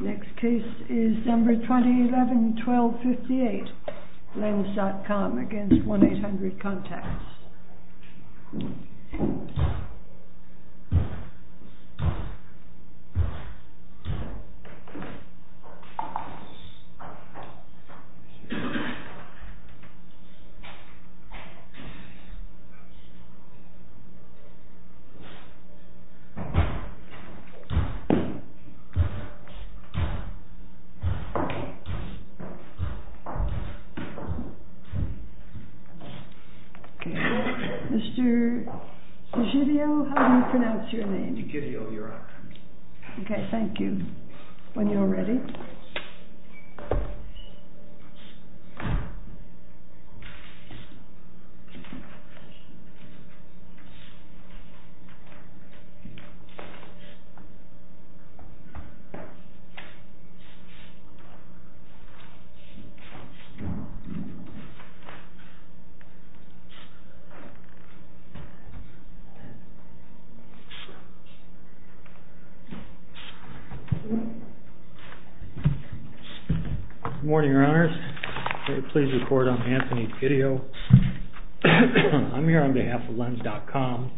Next case is number 2011-12-58 LENS.COM against 1-800 CONTACTS Next case is number 2011-12-58 LENS.COM against 1-800 CONTACTS Next case is number 2011-12-58 I am here on behalf of LENS.COM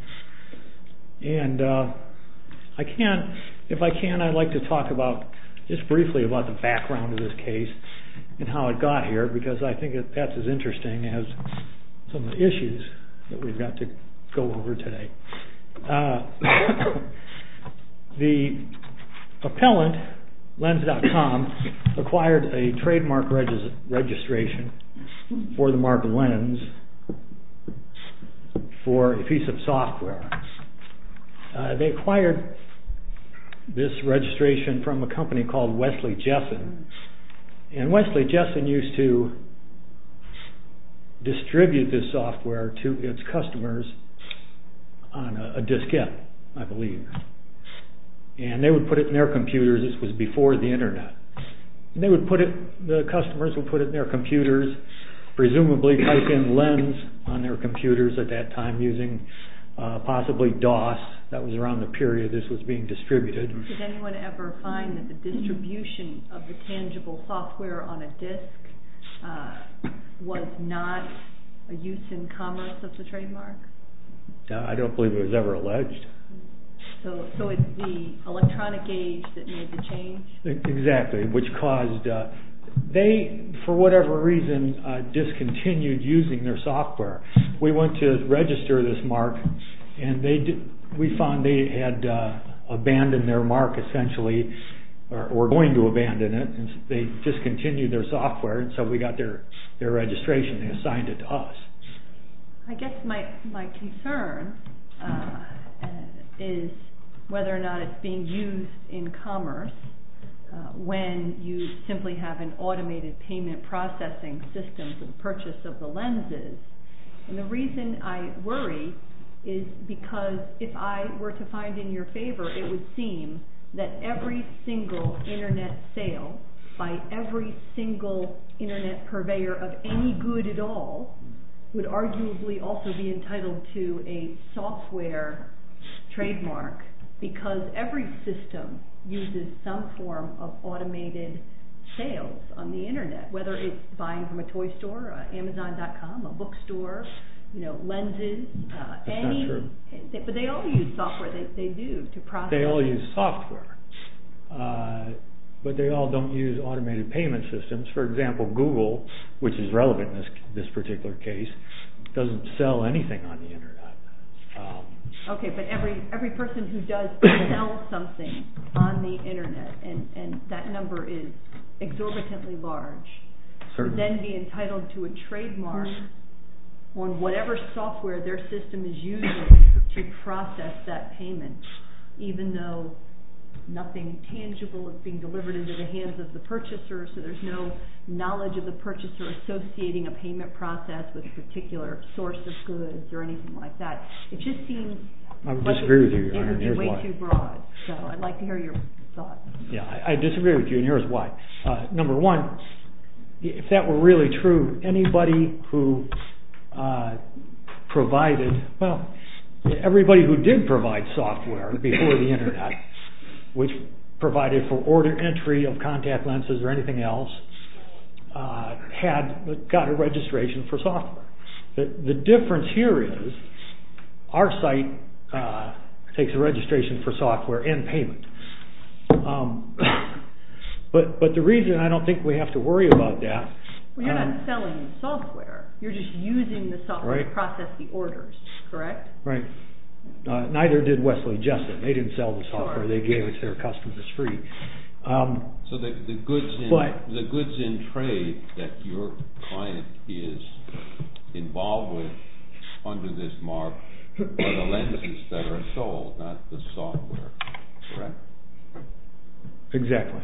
and I can't if I can I'd like to talk about just briefly about the background of this case and how it got here because I think that's as interesting as some of the issues that we've got to go over today. The appellant LENS.COM acquired a trademark registration for the mark LENS for a piece of software. They acquired this registration from a company called Wesley Jessen and Wesley Jessen used to distribute this software to its customers on a diskette, I believe, and they would put it in their computers, this was before the internet, and they would put it, the customers would put it in their computers, presumably type in LENS on their computers at that time using possibly DOS, that was around the period this was being distributed. Did anyone ever find that the distribution of the tangible software on a disk was not a use in commerce of the trademark? I don't believe it was ever alleged. So it's the electronic age that made the change? Exactly, which caused, they, for whatever reason, discontinued using their software. We went to register this mark and we found they had abandoned their mark, essentially, or were going to abandon it, and they discontinued their software, and so we got their registration and they assigned it to us. I guess my concern is whether or not it's being used in commerce when you simply have an automated payment processing system for the purchase of the LENSes, and the reason I worry is because if I were to find in your favor, it would seem that every single internet sale by every single internet purveyor of any good at all would arguably also be entitled to a software trademark, because every system uses some form of automated sales on the internet, whether it's buying from a toy store, Amazon.com, a bookstore, LENSes, any, but they all use software, they do, to process. They all use software, but they all don't use automated payment systems. For example, Google, which is relevant in this particular case, doesn't sell anything on the internet. Okay, but every person who does sell something on the internet, and that number is exorbitantly large, would then be entitled to a trademark on whatever software their system is using to process that payment, even though nothing tangible is being delivered into the hands of the purchaser, so there's no knowledge of the purchaser associating a payment process with a particular source of goods or anything like that. It just seems way too broad, so I'd like to hear your thoughts. Yeah, I disagree with you, and here's why. Number one, if that were really true, anybody who provided, well, everybody who did provide software before the internet, which provided for order entry of contact LENSes or anything else, had got a registration for software. The difference here is, our site takes a registration for software and payment, but the reason I don't think we have to worry about that... Well, you're not selling the software, you're just using the software to process the orders, correct? Correct. Right. Neither did Wesley Justin. They didn't sell the software, they gave it to their customers as free. So the goods in trade that your client is involved with, under this mark, are the LENSes that are sold, not the software. Correct? Exactly.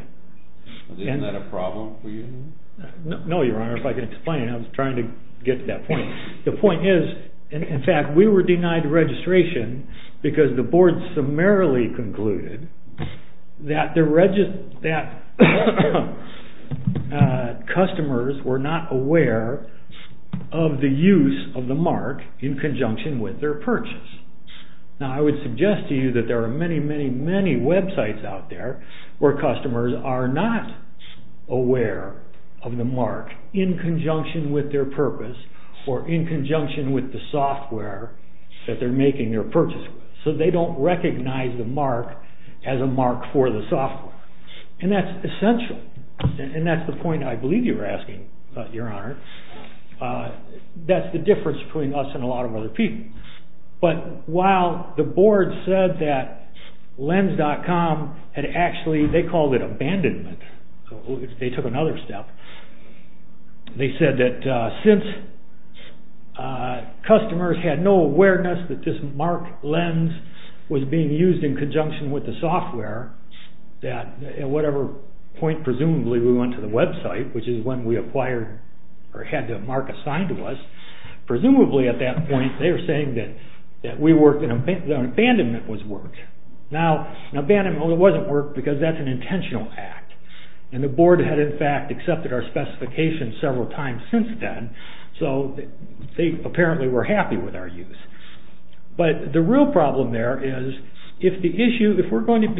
Isn't that a problem for you? No, Your Honor, if I can explain, I was trying to get to that point. The point is, in fact, we were denied registration because the board summarily concluded that customers were not aware of the use of the mark in conjunction with their purchase. Now, I would suggest to you that there are many, many, many websites out there where in conjunction with the software that they're making their purchase with, so they don't recognize the mark as a mark for the software. And that's essential, and that's the point I believe you were asking, Your Honor. That's the difference between us and a lot of other people. But while the board said that LENS.com had actually, they called it abandonment, they took another step. They said that since customers had no awareness that this mark LENS was being used in conjunction with the software, that at whatever point, presumably, we went to the website, which is when we acquired, or had the mark assigned to us, presumably at that point they were saying that we worked, that abandonment was work. Now abandonment wasn't work because that's an intentional act. And the board had in fact accepted our specifications several times since then, so they apparently were happy with our use. But the real problem there is if the issue, if it's going to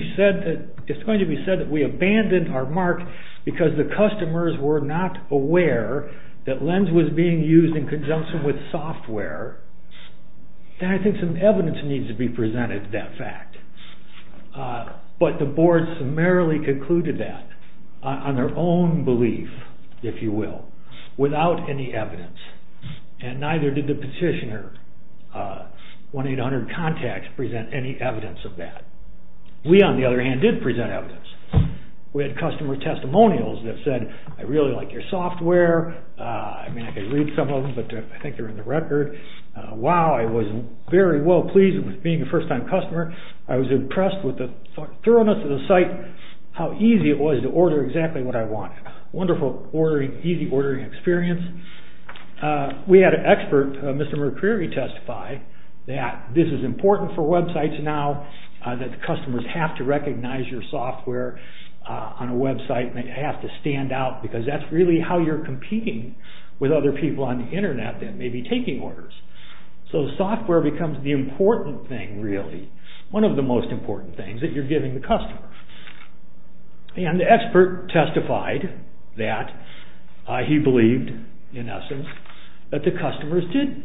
be said that we abandoned our mark because the customers were not aware that LENS was being used in conjunction with software, then I think some evidence needs to be presented to that fact. But the board summarily concluded that on their own belief, if you will, without any evidence, and neither did the petitioner, 1-800-CONTACT, present any evidence of that. We on the other hand did present evidence. We had customer testimonials that said, I really like your software, I mean I can read some of them, but I think they're in the record, wow, I was very well pleased with being a first-time customer. I was impressed with the thoroughness of the site, how easy it was to order exactly what I wanted. Wonderful ordering, easy ordering experience. We had an expert, Mr. McCreary, testify that this is important for websites now, that customers have to recognize your software on a website and they have to stand out because that's really how you're competing with other people on the internet that may be taking orders. So software becomes the important thing really, one of the most important things that you're giving the customer. And the expert testified that he believed, in essence, that the customers did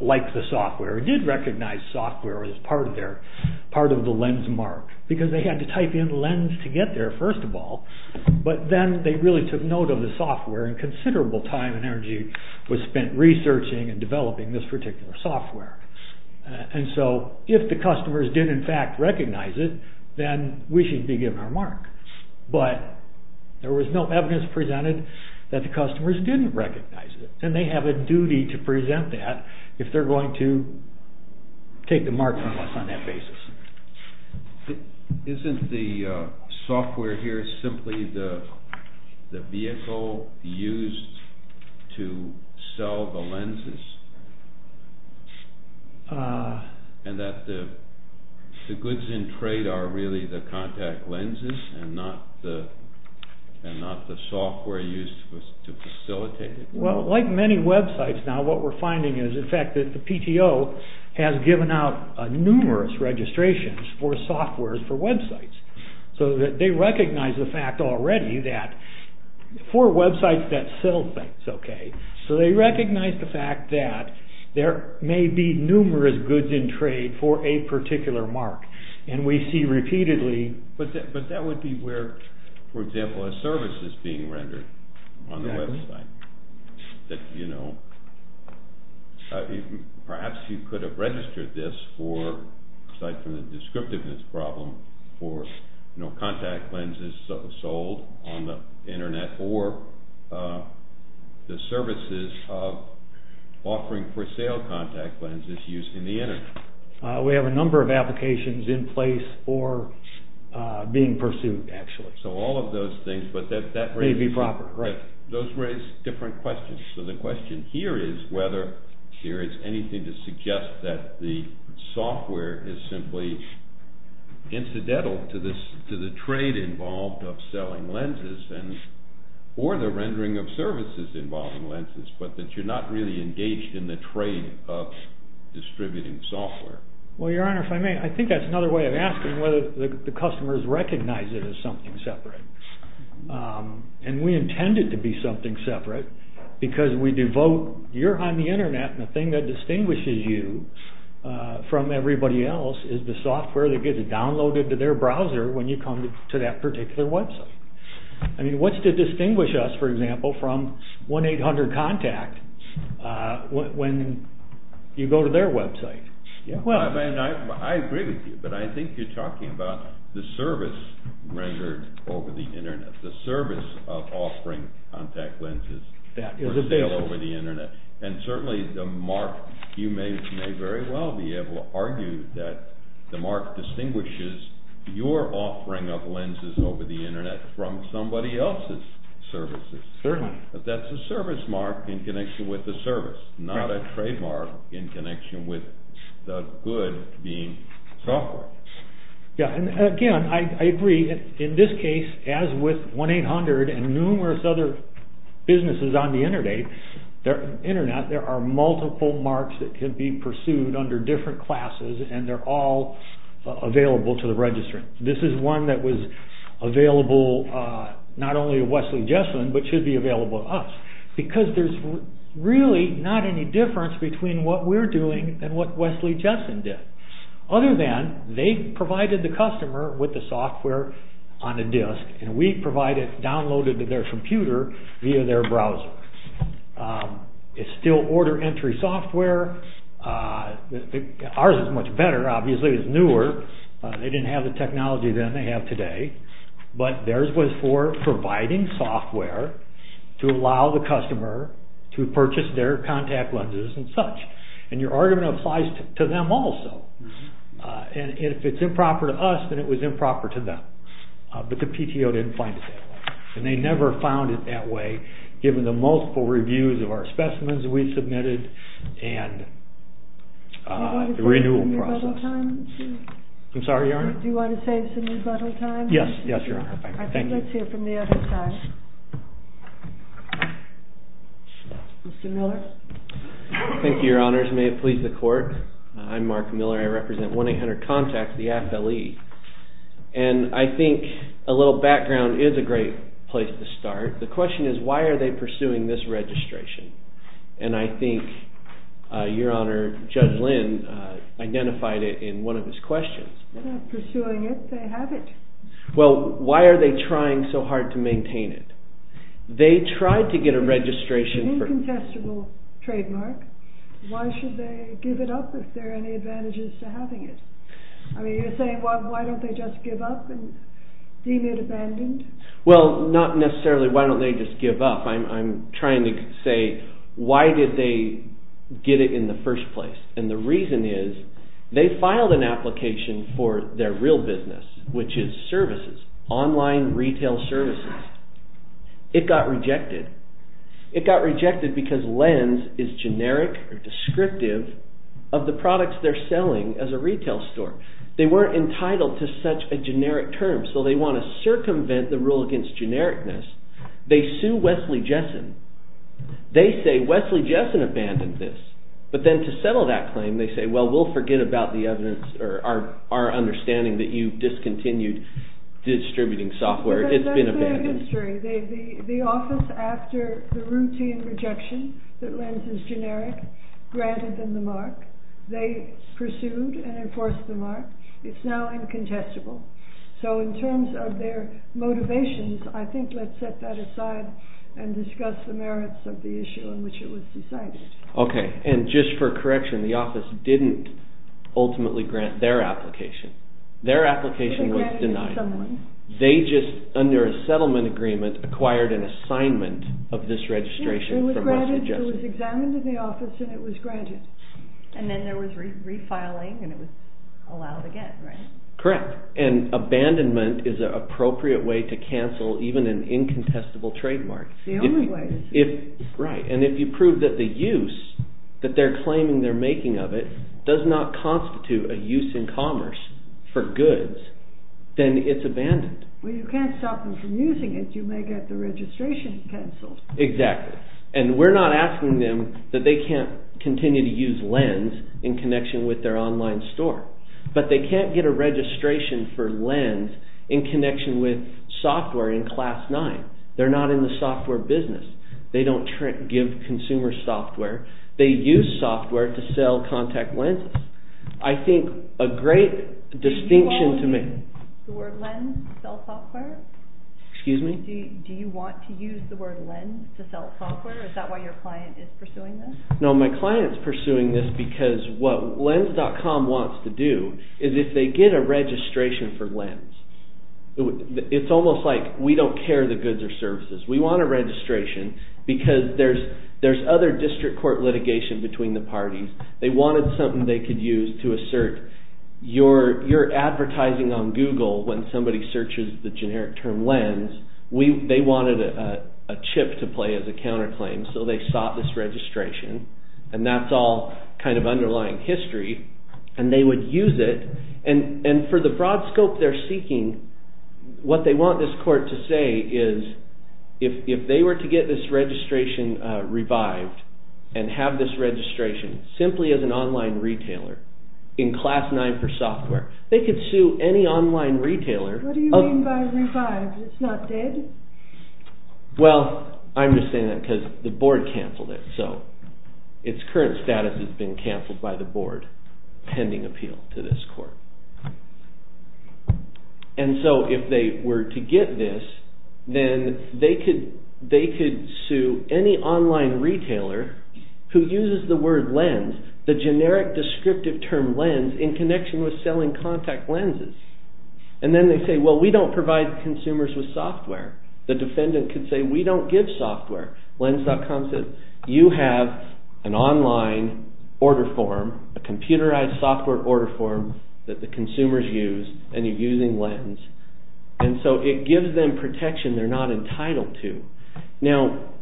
like the software, did recognize software as part of their, part of the lens mark, because they had to type in lens to get there first of all, but then they really took note of the developing this particular software. And so if the customers did in fact recognize it, then we should be given our mark, but there was no evidence presented that the customers didn't recognize it, and they have a duty to present that if they're going to take the mark from us on that basis. Isn't the software here simply the vehicle used to sell the lenses, and that the goods in trade are really the contact lenses and not the software used to facilitate it? Well, like many websites now, what we're finding is, in fact, that the PTO has given out numerous registrations for software for websites. So they recognize the fact already that, for websites that sell things, okay, so they recognize the fact that there may be numerous goods in trade for a particular mark, and we see repeatedly... But that would be where, for example, a service is being rendered on the website, that, you know, you could have registered this for, aside from the descriptiveness problem, for contact lenses sold on the internet or the services of offering for sale contact lenses used in the internet. We have a number of applications in place for being pursued, actually. So all of those things, but that... May be proper, right. Those raise different questions. So the question here is whether there is anything to suggest that the software is simply incidental to the trade involved of selling lenses, or the rendering of services involving lenses, but that you're not really engaged in the trade of distributing software. Well, your honor, if I may, I think that's another way of asking whether the customers recognize it as something separate. And we intend it to be something separate because we devote... You're on the internet, and the thing that distinguishes you from everybody else is the software that gets downloaded to their browser when you come to that particular website. I mean, what's to distinguish us, for example, from 1-800-CONTACT when you go to their website? Yeah. I think you're talking about the service rendered over the internet, the service of offering contact lenses for sale over the internet. And certainly the mark, you may very well be able to argue that the mark distinguishes your offering of lenses over the internet from somebody else's services. Certainly. But that's a service mark in connection with the service, not a trademark in connection with the good being software. Yeah. And again, I agree. In this case, as with 1-800 and numerous other businesses on the internet, there are multiple marks that can be pursued under different classes and they're all available to the registrant. This is one that was available not only to Wesley Jesselin, but should be available to us. Because there's really not any difference between what we're doing and what Wesley Jesselin did, other than they provided the customer with the software on a disk and we provide it downloaded to their computer via their browser. It's still order entry software. Ours is much better. Obviously, it's newer. They didn't have the technology then they have today. But theirs was for providing software to allow the customer to purchase their contact lenses and such. And your argument applies to them also. And if it's improper to us, then it was improper to them. But the PTO didn't find it that way. And they never found it that way, given the multiple reviews of our specimens we submitted and the renewal process. Do you want to save some rebuttal time? Yes. Yes, Your Honor. Thank you. Let's hear from the other side. Mr. Miller. Thank you, Your Honors. May it please the court. I'm Mark Miller. I represent 1-800-CONTACT, the AFLE. And I think a little background is a great place to start. The question is, why are they pursuing this registration? And I think, Your Honor, Judge Lynn identified it in one of his questions. They're not pursuing it. They have it. Well, why are they trying so hard to maintain it? They tried to get a registration. It's an incontestable trademark. Why should they give it up if there are any advantages to having it? I mean, you're saying, why don't they just give up and deem it abandoned? Well, not necessarily. Why don't they just give up? I'm trying to say, why did they get it in the first place? And the reason is, they filed an application for their real business, which is services, online retail services. It got rejected. It got rejected because Lenz is generic or descriptive of the products they're selling as a retail store. They weren't entitled to such a generic term. So they want to circumvent the rule against genericness. They sue Wesley Jessen. They say Wesley Jessen abandoned this. But then to settle that claim, they say, well, we'll forget about the evidence or our our understanding that you discontinued distributing software. It's been a bad history. The office after the routine rejection that Lenz is generic granted them the mark they pursued and enforced the mark. It's now incontestable. So in terms of their motivations, I think let's set that aside and discuss the merits of the issue in which it was decided. OK. And just for correction, the office didn't ultimately grant their application. Their application was denied. They just under a settlement agreement, acquired an assignment of this registration from Wesley Jessen. It was examined in the office and it was granted. And then there was refiling and it was allowed again, right? Correct. And abandonment is an appropriate way to cancel even an incontestable trademark. If right. And if you prove that the use that they're claiming they're making of it does not constitute a use in commerce for goods, then it's abandoned. Well, you can't stop them from using it. You may get the registration canceled. Exactly. And we're not asking them that they can't continue to use Lenz in connection with their online store, but they can't get a registration for Lenz in connection with software in class nine. They're not in the software business. They don't give consumer software. They use software to sell contact lenses. I think a great distinction to make. The word Lenz to sell software. Excuse me. Do you want to use the word Lenz to sell software? Is that why your client is pursuing this? No, my client's pursuing this because what Lenz.com wants to do is if they get a registration for Lenz, it's almost like we don't care the goods or services. We want a registration because there's there's other district court litigation between the parties. They wanted something they could use to assert your your advertising on Google when somebody searches the generic term Lenz. We they wanted a chip to play as a counterclaim. So they sought this registration. And that's all kind of underlying history. And they would use it. And and for the broad scope they're seeking, what they want this court to say is if if they were to get this registration revived and have this registration simply as an online retailer in class nine for software, they could sue any online retailer. What do you mean by revived? It's not dead? Well, I'm just saying that because the board canceled it. So its current status has been canceled by the board pending appeal to this court. And so if they were to get this, then they could they could sue any online retailer who uses the word Lenz, the generic descriptive term Lenz in connection with selling contact lenses. And then they say, well, we don't provide consumers with software. The defendant could say we don't give software. Lenz.com says you have an online order form, a computerized software order form that the consumers use. And you're using Lenz. And so it gives them protection they're not entitled to. Now,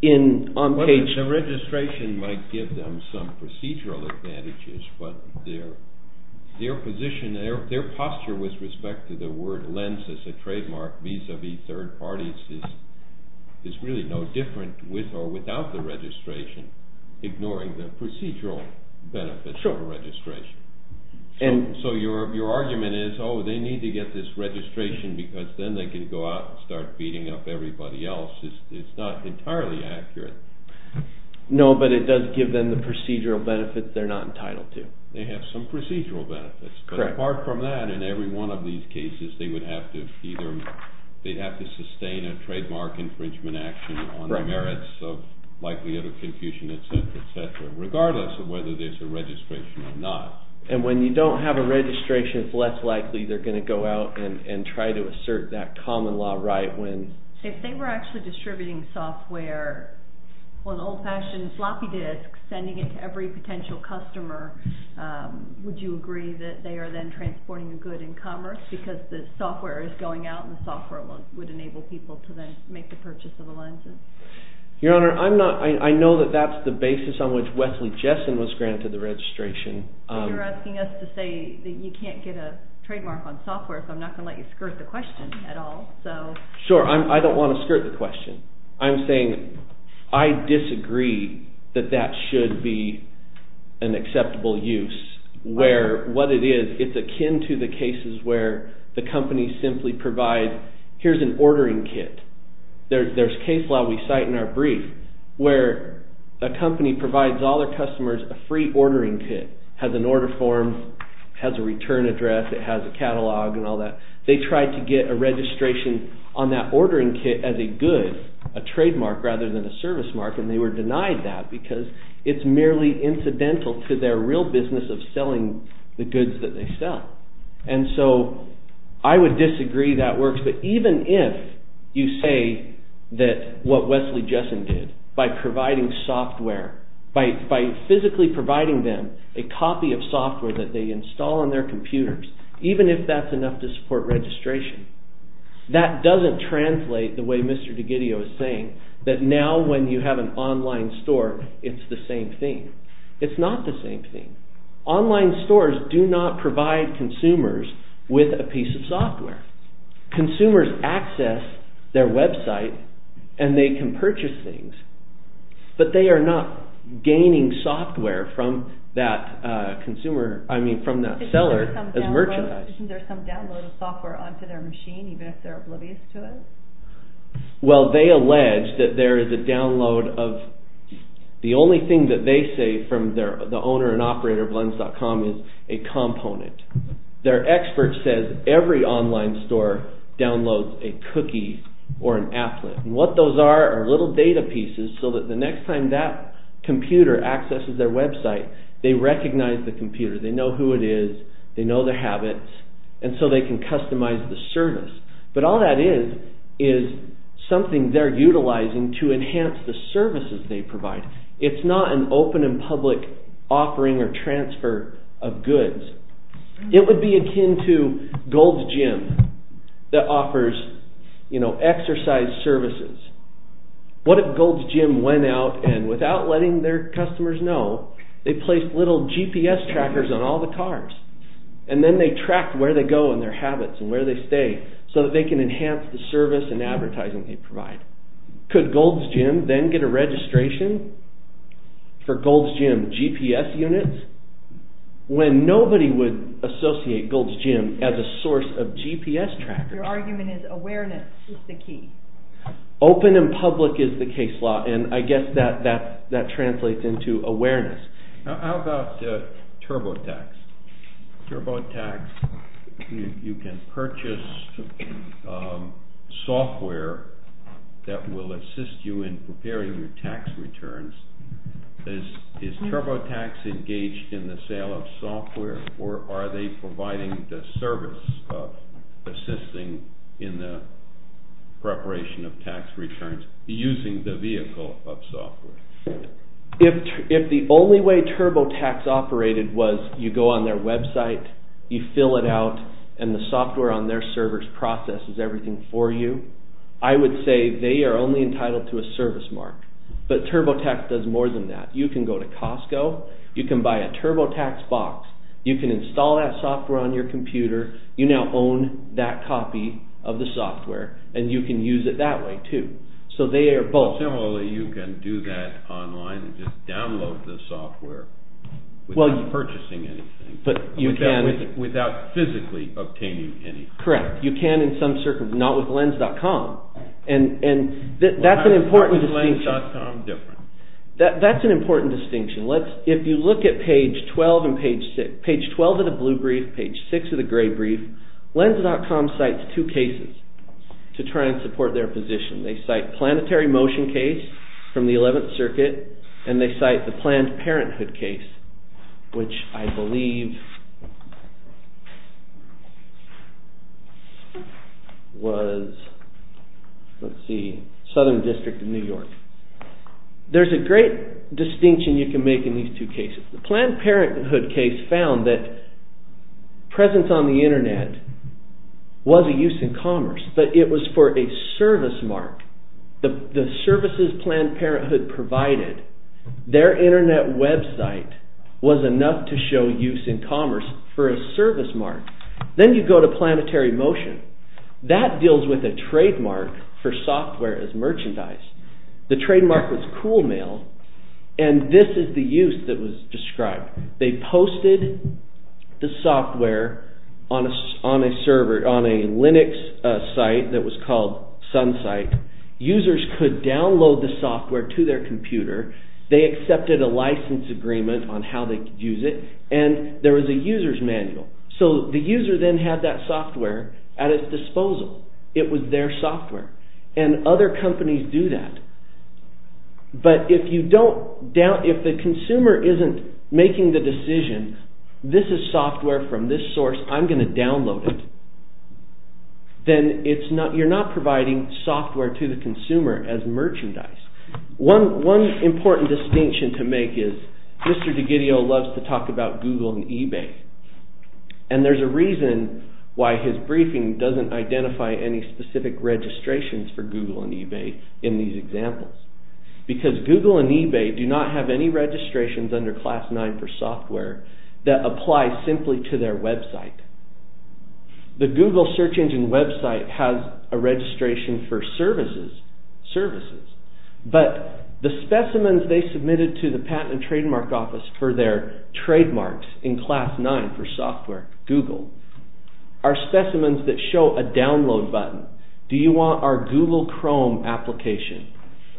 in on page, the registration might give them some procedural advantages, but their their position, their posture with respect to the word Lenz as a trademark vis-a-vis third parties is is really no different with or without the registration, ignoring the procedural benefits of a registration. And so your your argument is, oh, they need to get this registration because then they can go out and start beating up everybody else. It's not entirely accurate. No, but it does give them the procedural benefits they're not entitled to. They have some procedural benefits. But apart from that, in every one of these cases, they would have to either they'd have to sustain a trademark infringement action on the merits of likelihood of confusion, et cetera, et cetera, regardless of whether there's a registration or not. And when you don't have a registration, it's less likely they're going to go out and try to assert that common law right when if they were actually distributing software on old fashioned floppy disks, sending it to every potential customer. Would you agree that they are then transporting the good in commerce because the software is going out and the software would enable people to then make the purchase of the lenses? Your Honor, I'm not I know that that's the basis on which Wesley Jessen was granted the registration. You're asking us to say that you can't get a trademark on software. So I'm not going to let you skirt the question at all. So sure, I don't want to skirt the question. I'm saying I disagree that that should be an acceptable use where what it is, it's akin to the cases where the company simply provide here's an ordering kit. There's case law we cite in our brief where the company provides all their customers a free ordering kit, has an order form, has a return address, it has a catalog and all that. They tried to get a registration on that ordering kit as a good, a trademark rather than a service mark. And they were denied that because it's merely incidental to their real business of selling the goods that they sell. And so I would disagree that works. But even if you say that what Wesley Jessen did by providing software, by physically providing them a copy of software that they install on their computers, even if that's enough to support registration, that doesn't translate the way Mr. D'Ghidio is saying that now when you have an online store, it's the same thing. It's not the same thing. Online stores do not provide consumers with a piece of software. Consumers access their website and they can purchase things, but they are not gaining software from that consumer, I mean, from that seller as merchandise. Isn't there some download of software onto their machine, even if they're oblivious to it? Well, they allege that there is a download of the only thing that they say from the owner and operator of blends.com is a component. Their expert says every online store downloads a cookie or an applet. And what those are, are little data pieces so that the next time that computer accesses their website, they recognize the computer. They know who it is, they know their habits, and so they can customize the service. But all that is, is something they're utilizing to enhance the services they provide. It's not an open and public offering or transfer of goods. It would be akin to Gold's Gym that offers, you know, exercise services. What if Gold's Gym went out and without letting their customers know, they placed little GPS trackers on all the cars, and then they tracked where they go and their habits and where they stay so that they can enhance the service and advertising they provide. Could Gold's Gym then get a registration for Gold's Gym GPS units? When nobody would associate Gold's Gym as a source of GPS trackers. Your argument is awareness is the key. Open and public is the case law, and I guess that translates into awareness. How about TurboTax? TurboTax, you can purchase software that will assist you in preparing your tax returns. Is TurboTax engaged in the sale of software, or are they providing the service of assisting in the preparation of tax returns using the vehicle of software? If the only way TurboTax operated was you go on their website, you fill it out, and the software on their servers processes everything for you, I would say they are only entitled to a service mark. But TurboTax does more than that. You can go to Costco, you can buy a TurboTax box, you can install that software on your computer, you now own that copy of the software, and you can use it that way too. So they are both. Similarly, you can do that online and just download the software without purchasing anything. But you can. Without physically obtaining anything. Correct. You can in some circumstances, not with Lens.com, and that's an important distinction. If you look at page 12 and page 6, page 12 of the blue brief, page 6 of the gray brief, Lens.com cites two cases to try and support their position. They cite planetary motion case from the 11th circuit, and they cite the Planned Parenthood case, which I believe was, let's see, Southern District of New York. There's a great distinction you can make in these two cases. The Planned Parenthood case found that presence on the internet was a use in commerce, but it was for a service mark. The services Planned Parenthood provided, their internet website was enough to show use in commerce for a service mark. Then you go to planetary motion. That deals with a trademark for software as merchandise. The trademark was cool mail, and this is the use that was described. They posted the software on a Linux site that was called SunSite. Users could download the software to their computer. They accepted a license agreement on how they could use it, and there was a user's manual. So the user then had that software at his disposal. It was their software. And other companies do that, but if the consumer isn't making the decision, this is software from this source, I'm going to download it, then you're not providing software to the consumer as merchandise. One important distinction to make is Mr. DiGidio loves to talk about Google and eBay, and there's a reason why his briefing doesn't identify any specific registrations for Google and eBay in these examples, because Google and eBay do not have any registrations under Class 9 for software that apply simply to their website. The Google search engine website has a registration for services, but the specimens they submitted to the Patent and Trademark Office for their trademarks in Class 9 for software, Google, are specimens that show a download button. Do you want our Google Chrome application?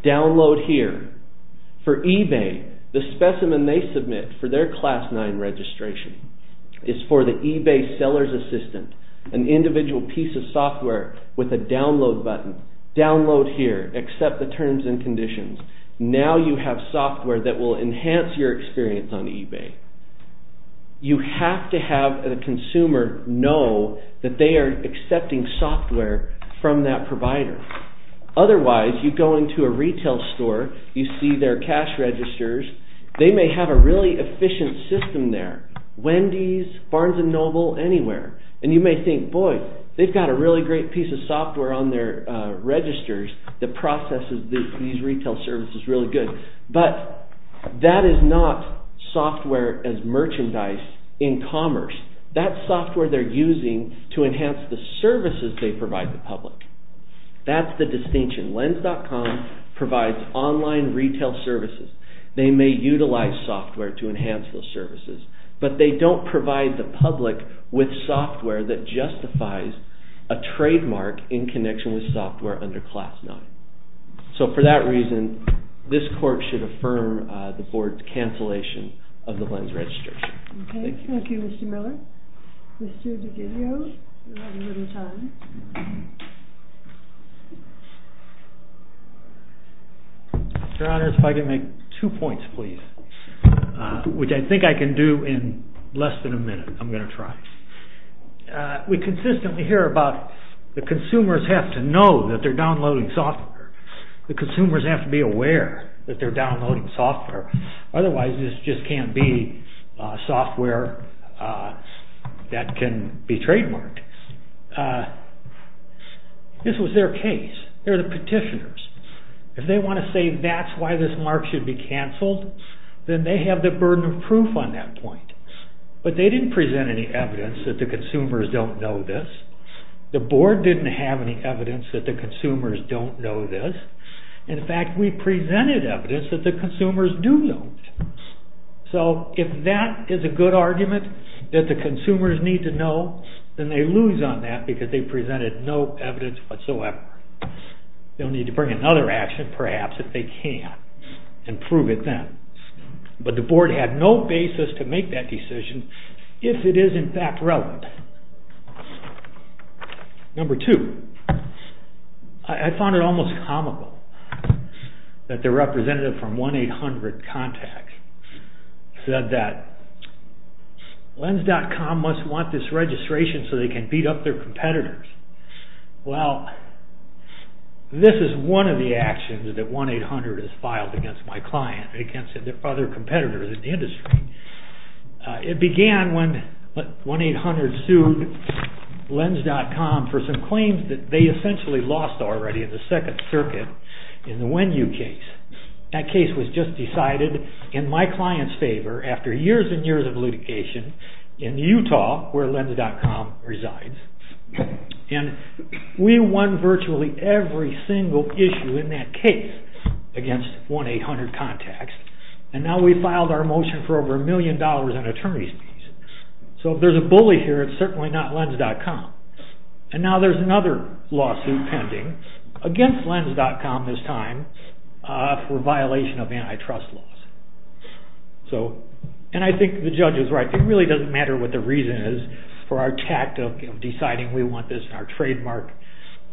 Download here. For eBay, the specimen they submit for their Class 9 registration is for the eBay seller's assistant, an individual piece of software with a download button. Download here. Accept the terms and conditions. Now you have software that will enhance your experience on eBay. You have to have the consumer know that they are accepting software from that provider. Otherwise, you go into a retail store, you see their cash registers, they may have a really efficient system there, Wendy's, Barnes & Noble, anywhere, and you may think, boy, they've got a really great piece of software on their registers that processes these retail services really good, but that is not software as merchandise in commerce, that's software they're using to enhance the services they provide the public. That's the distinction. Lens.com provides online retail services. They may utilize software to enhance those services, but they don't provide the public with software that justifies a trademark in connection with software under Class 9. So for that reason, this court should affirm the board's cancellation of the Lens registration. Thank you. Thank you, Mr. Miller. Mr. DiGuglio, you have a little time. Your Honor, if I could make two points, please, which I think I can do in less than a minute. I'm going to try. We consistently hear about the consumers have to know that they're downloading software. The consumers have to be aware that they're downloading software. Otherwise, this just can't be software that can be trademarked. This was their case. They're the petitioners. If they want to say that's why this mark should be canceled, then they have the burden of proof on that point. But they didn't present any evidence that the consumers don't know this. The board didn't have any evidence that the consumers don't know this. In fact, we presented evidence that the consumers do know this. So if that is a good argument that the consumers need to know, then they lose on that because they presented no evidence whatsoever. They'll need to bring another action perhaps if they can and prove it then. But the board had no basis to make that decision if it is in fact relevant. Number two, I found it almost comical that the representative from 1-800-CONTACT said that lens.com must want this registration so they can beat up their competitors. Well, this is one of the actions that 1-800 has filed against my client, against other competitors in the industry. It began when 1-800 sued lens.com for some claims that they essentially lost already in the Second Circuit in the Wen-Yu case. That case was just decided in my client's favor after years and years of litigation in Utah, where lens.com resides. And we won virtually every single issue in that case against 1-800-CONTACT. And now we filed our motion for over a million dollars in attorney's fees. So if there's a bully here, it's certainly not lens.com. And now there's another lawsuit pending against lens.com this time for violation of antitrust laws. So, and I think the judge is right. It really doesn't matter what the reason is for our tactic of deciding we want this in our trademark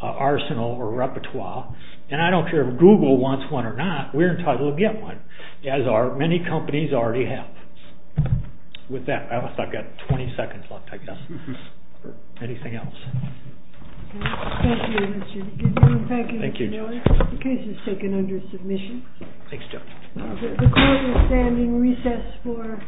arsenal or repertoire. And I don't care if Google wants one or not, we're entitled to get one, as are many companies already have. With that, I've got 20 seconds left, I guess, for anything else. Thank you, Mr. Newman. Thank you, Mr. Newman. The case is taken under submission. Thanks, Joe. The court is standing recess for.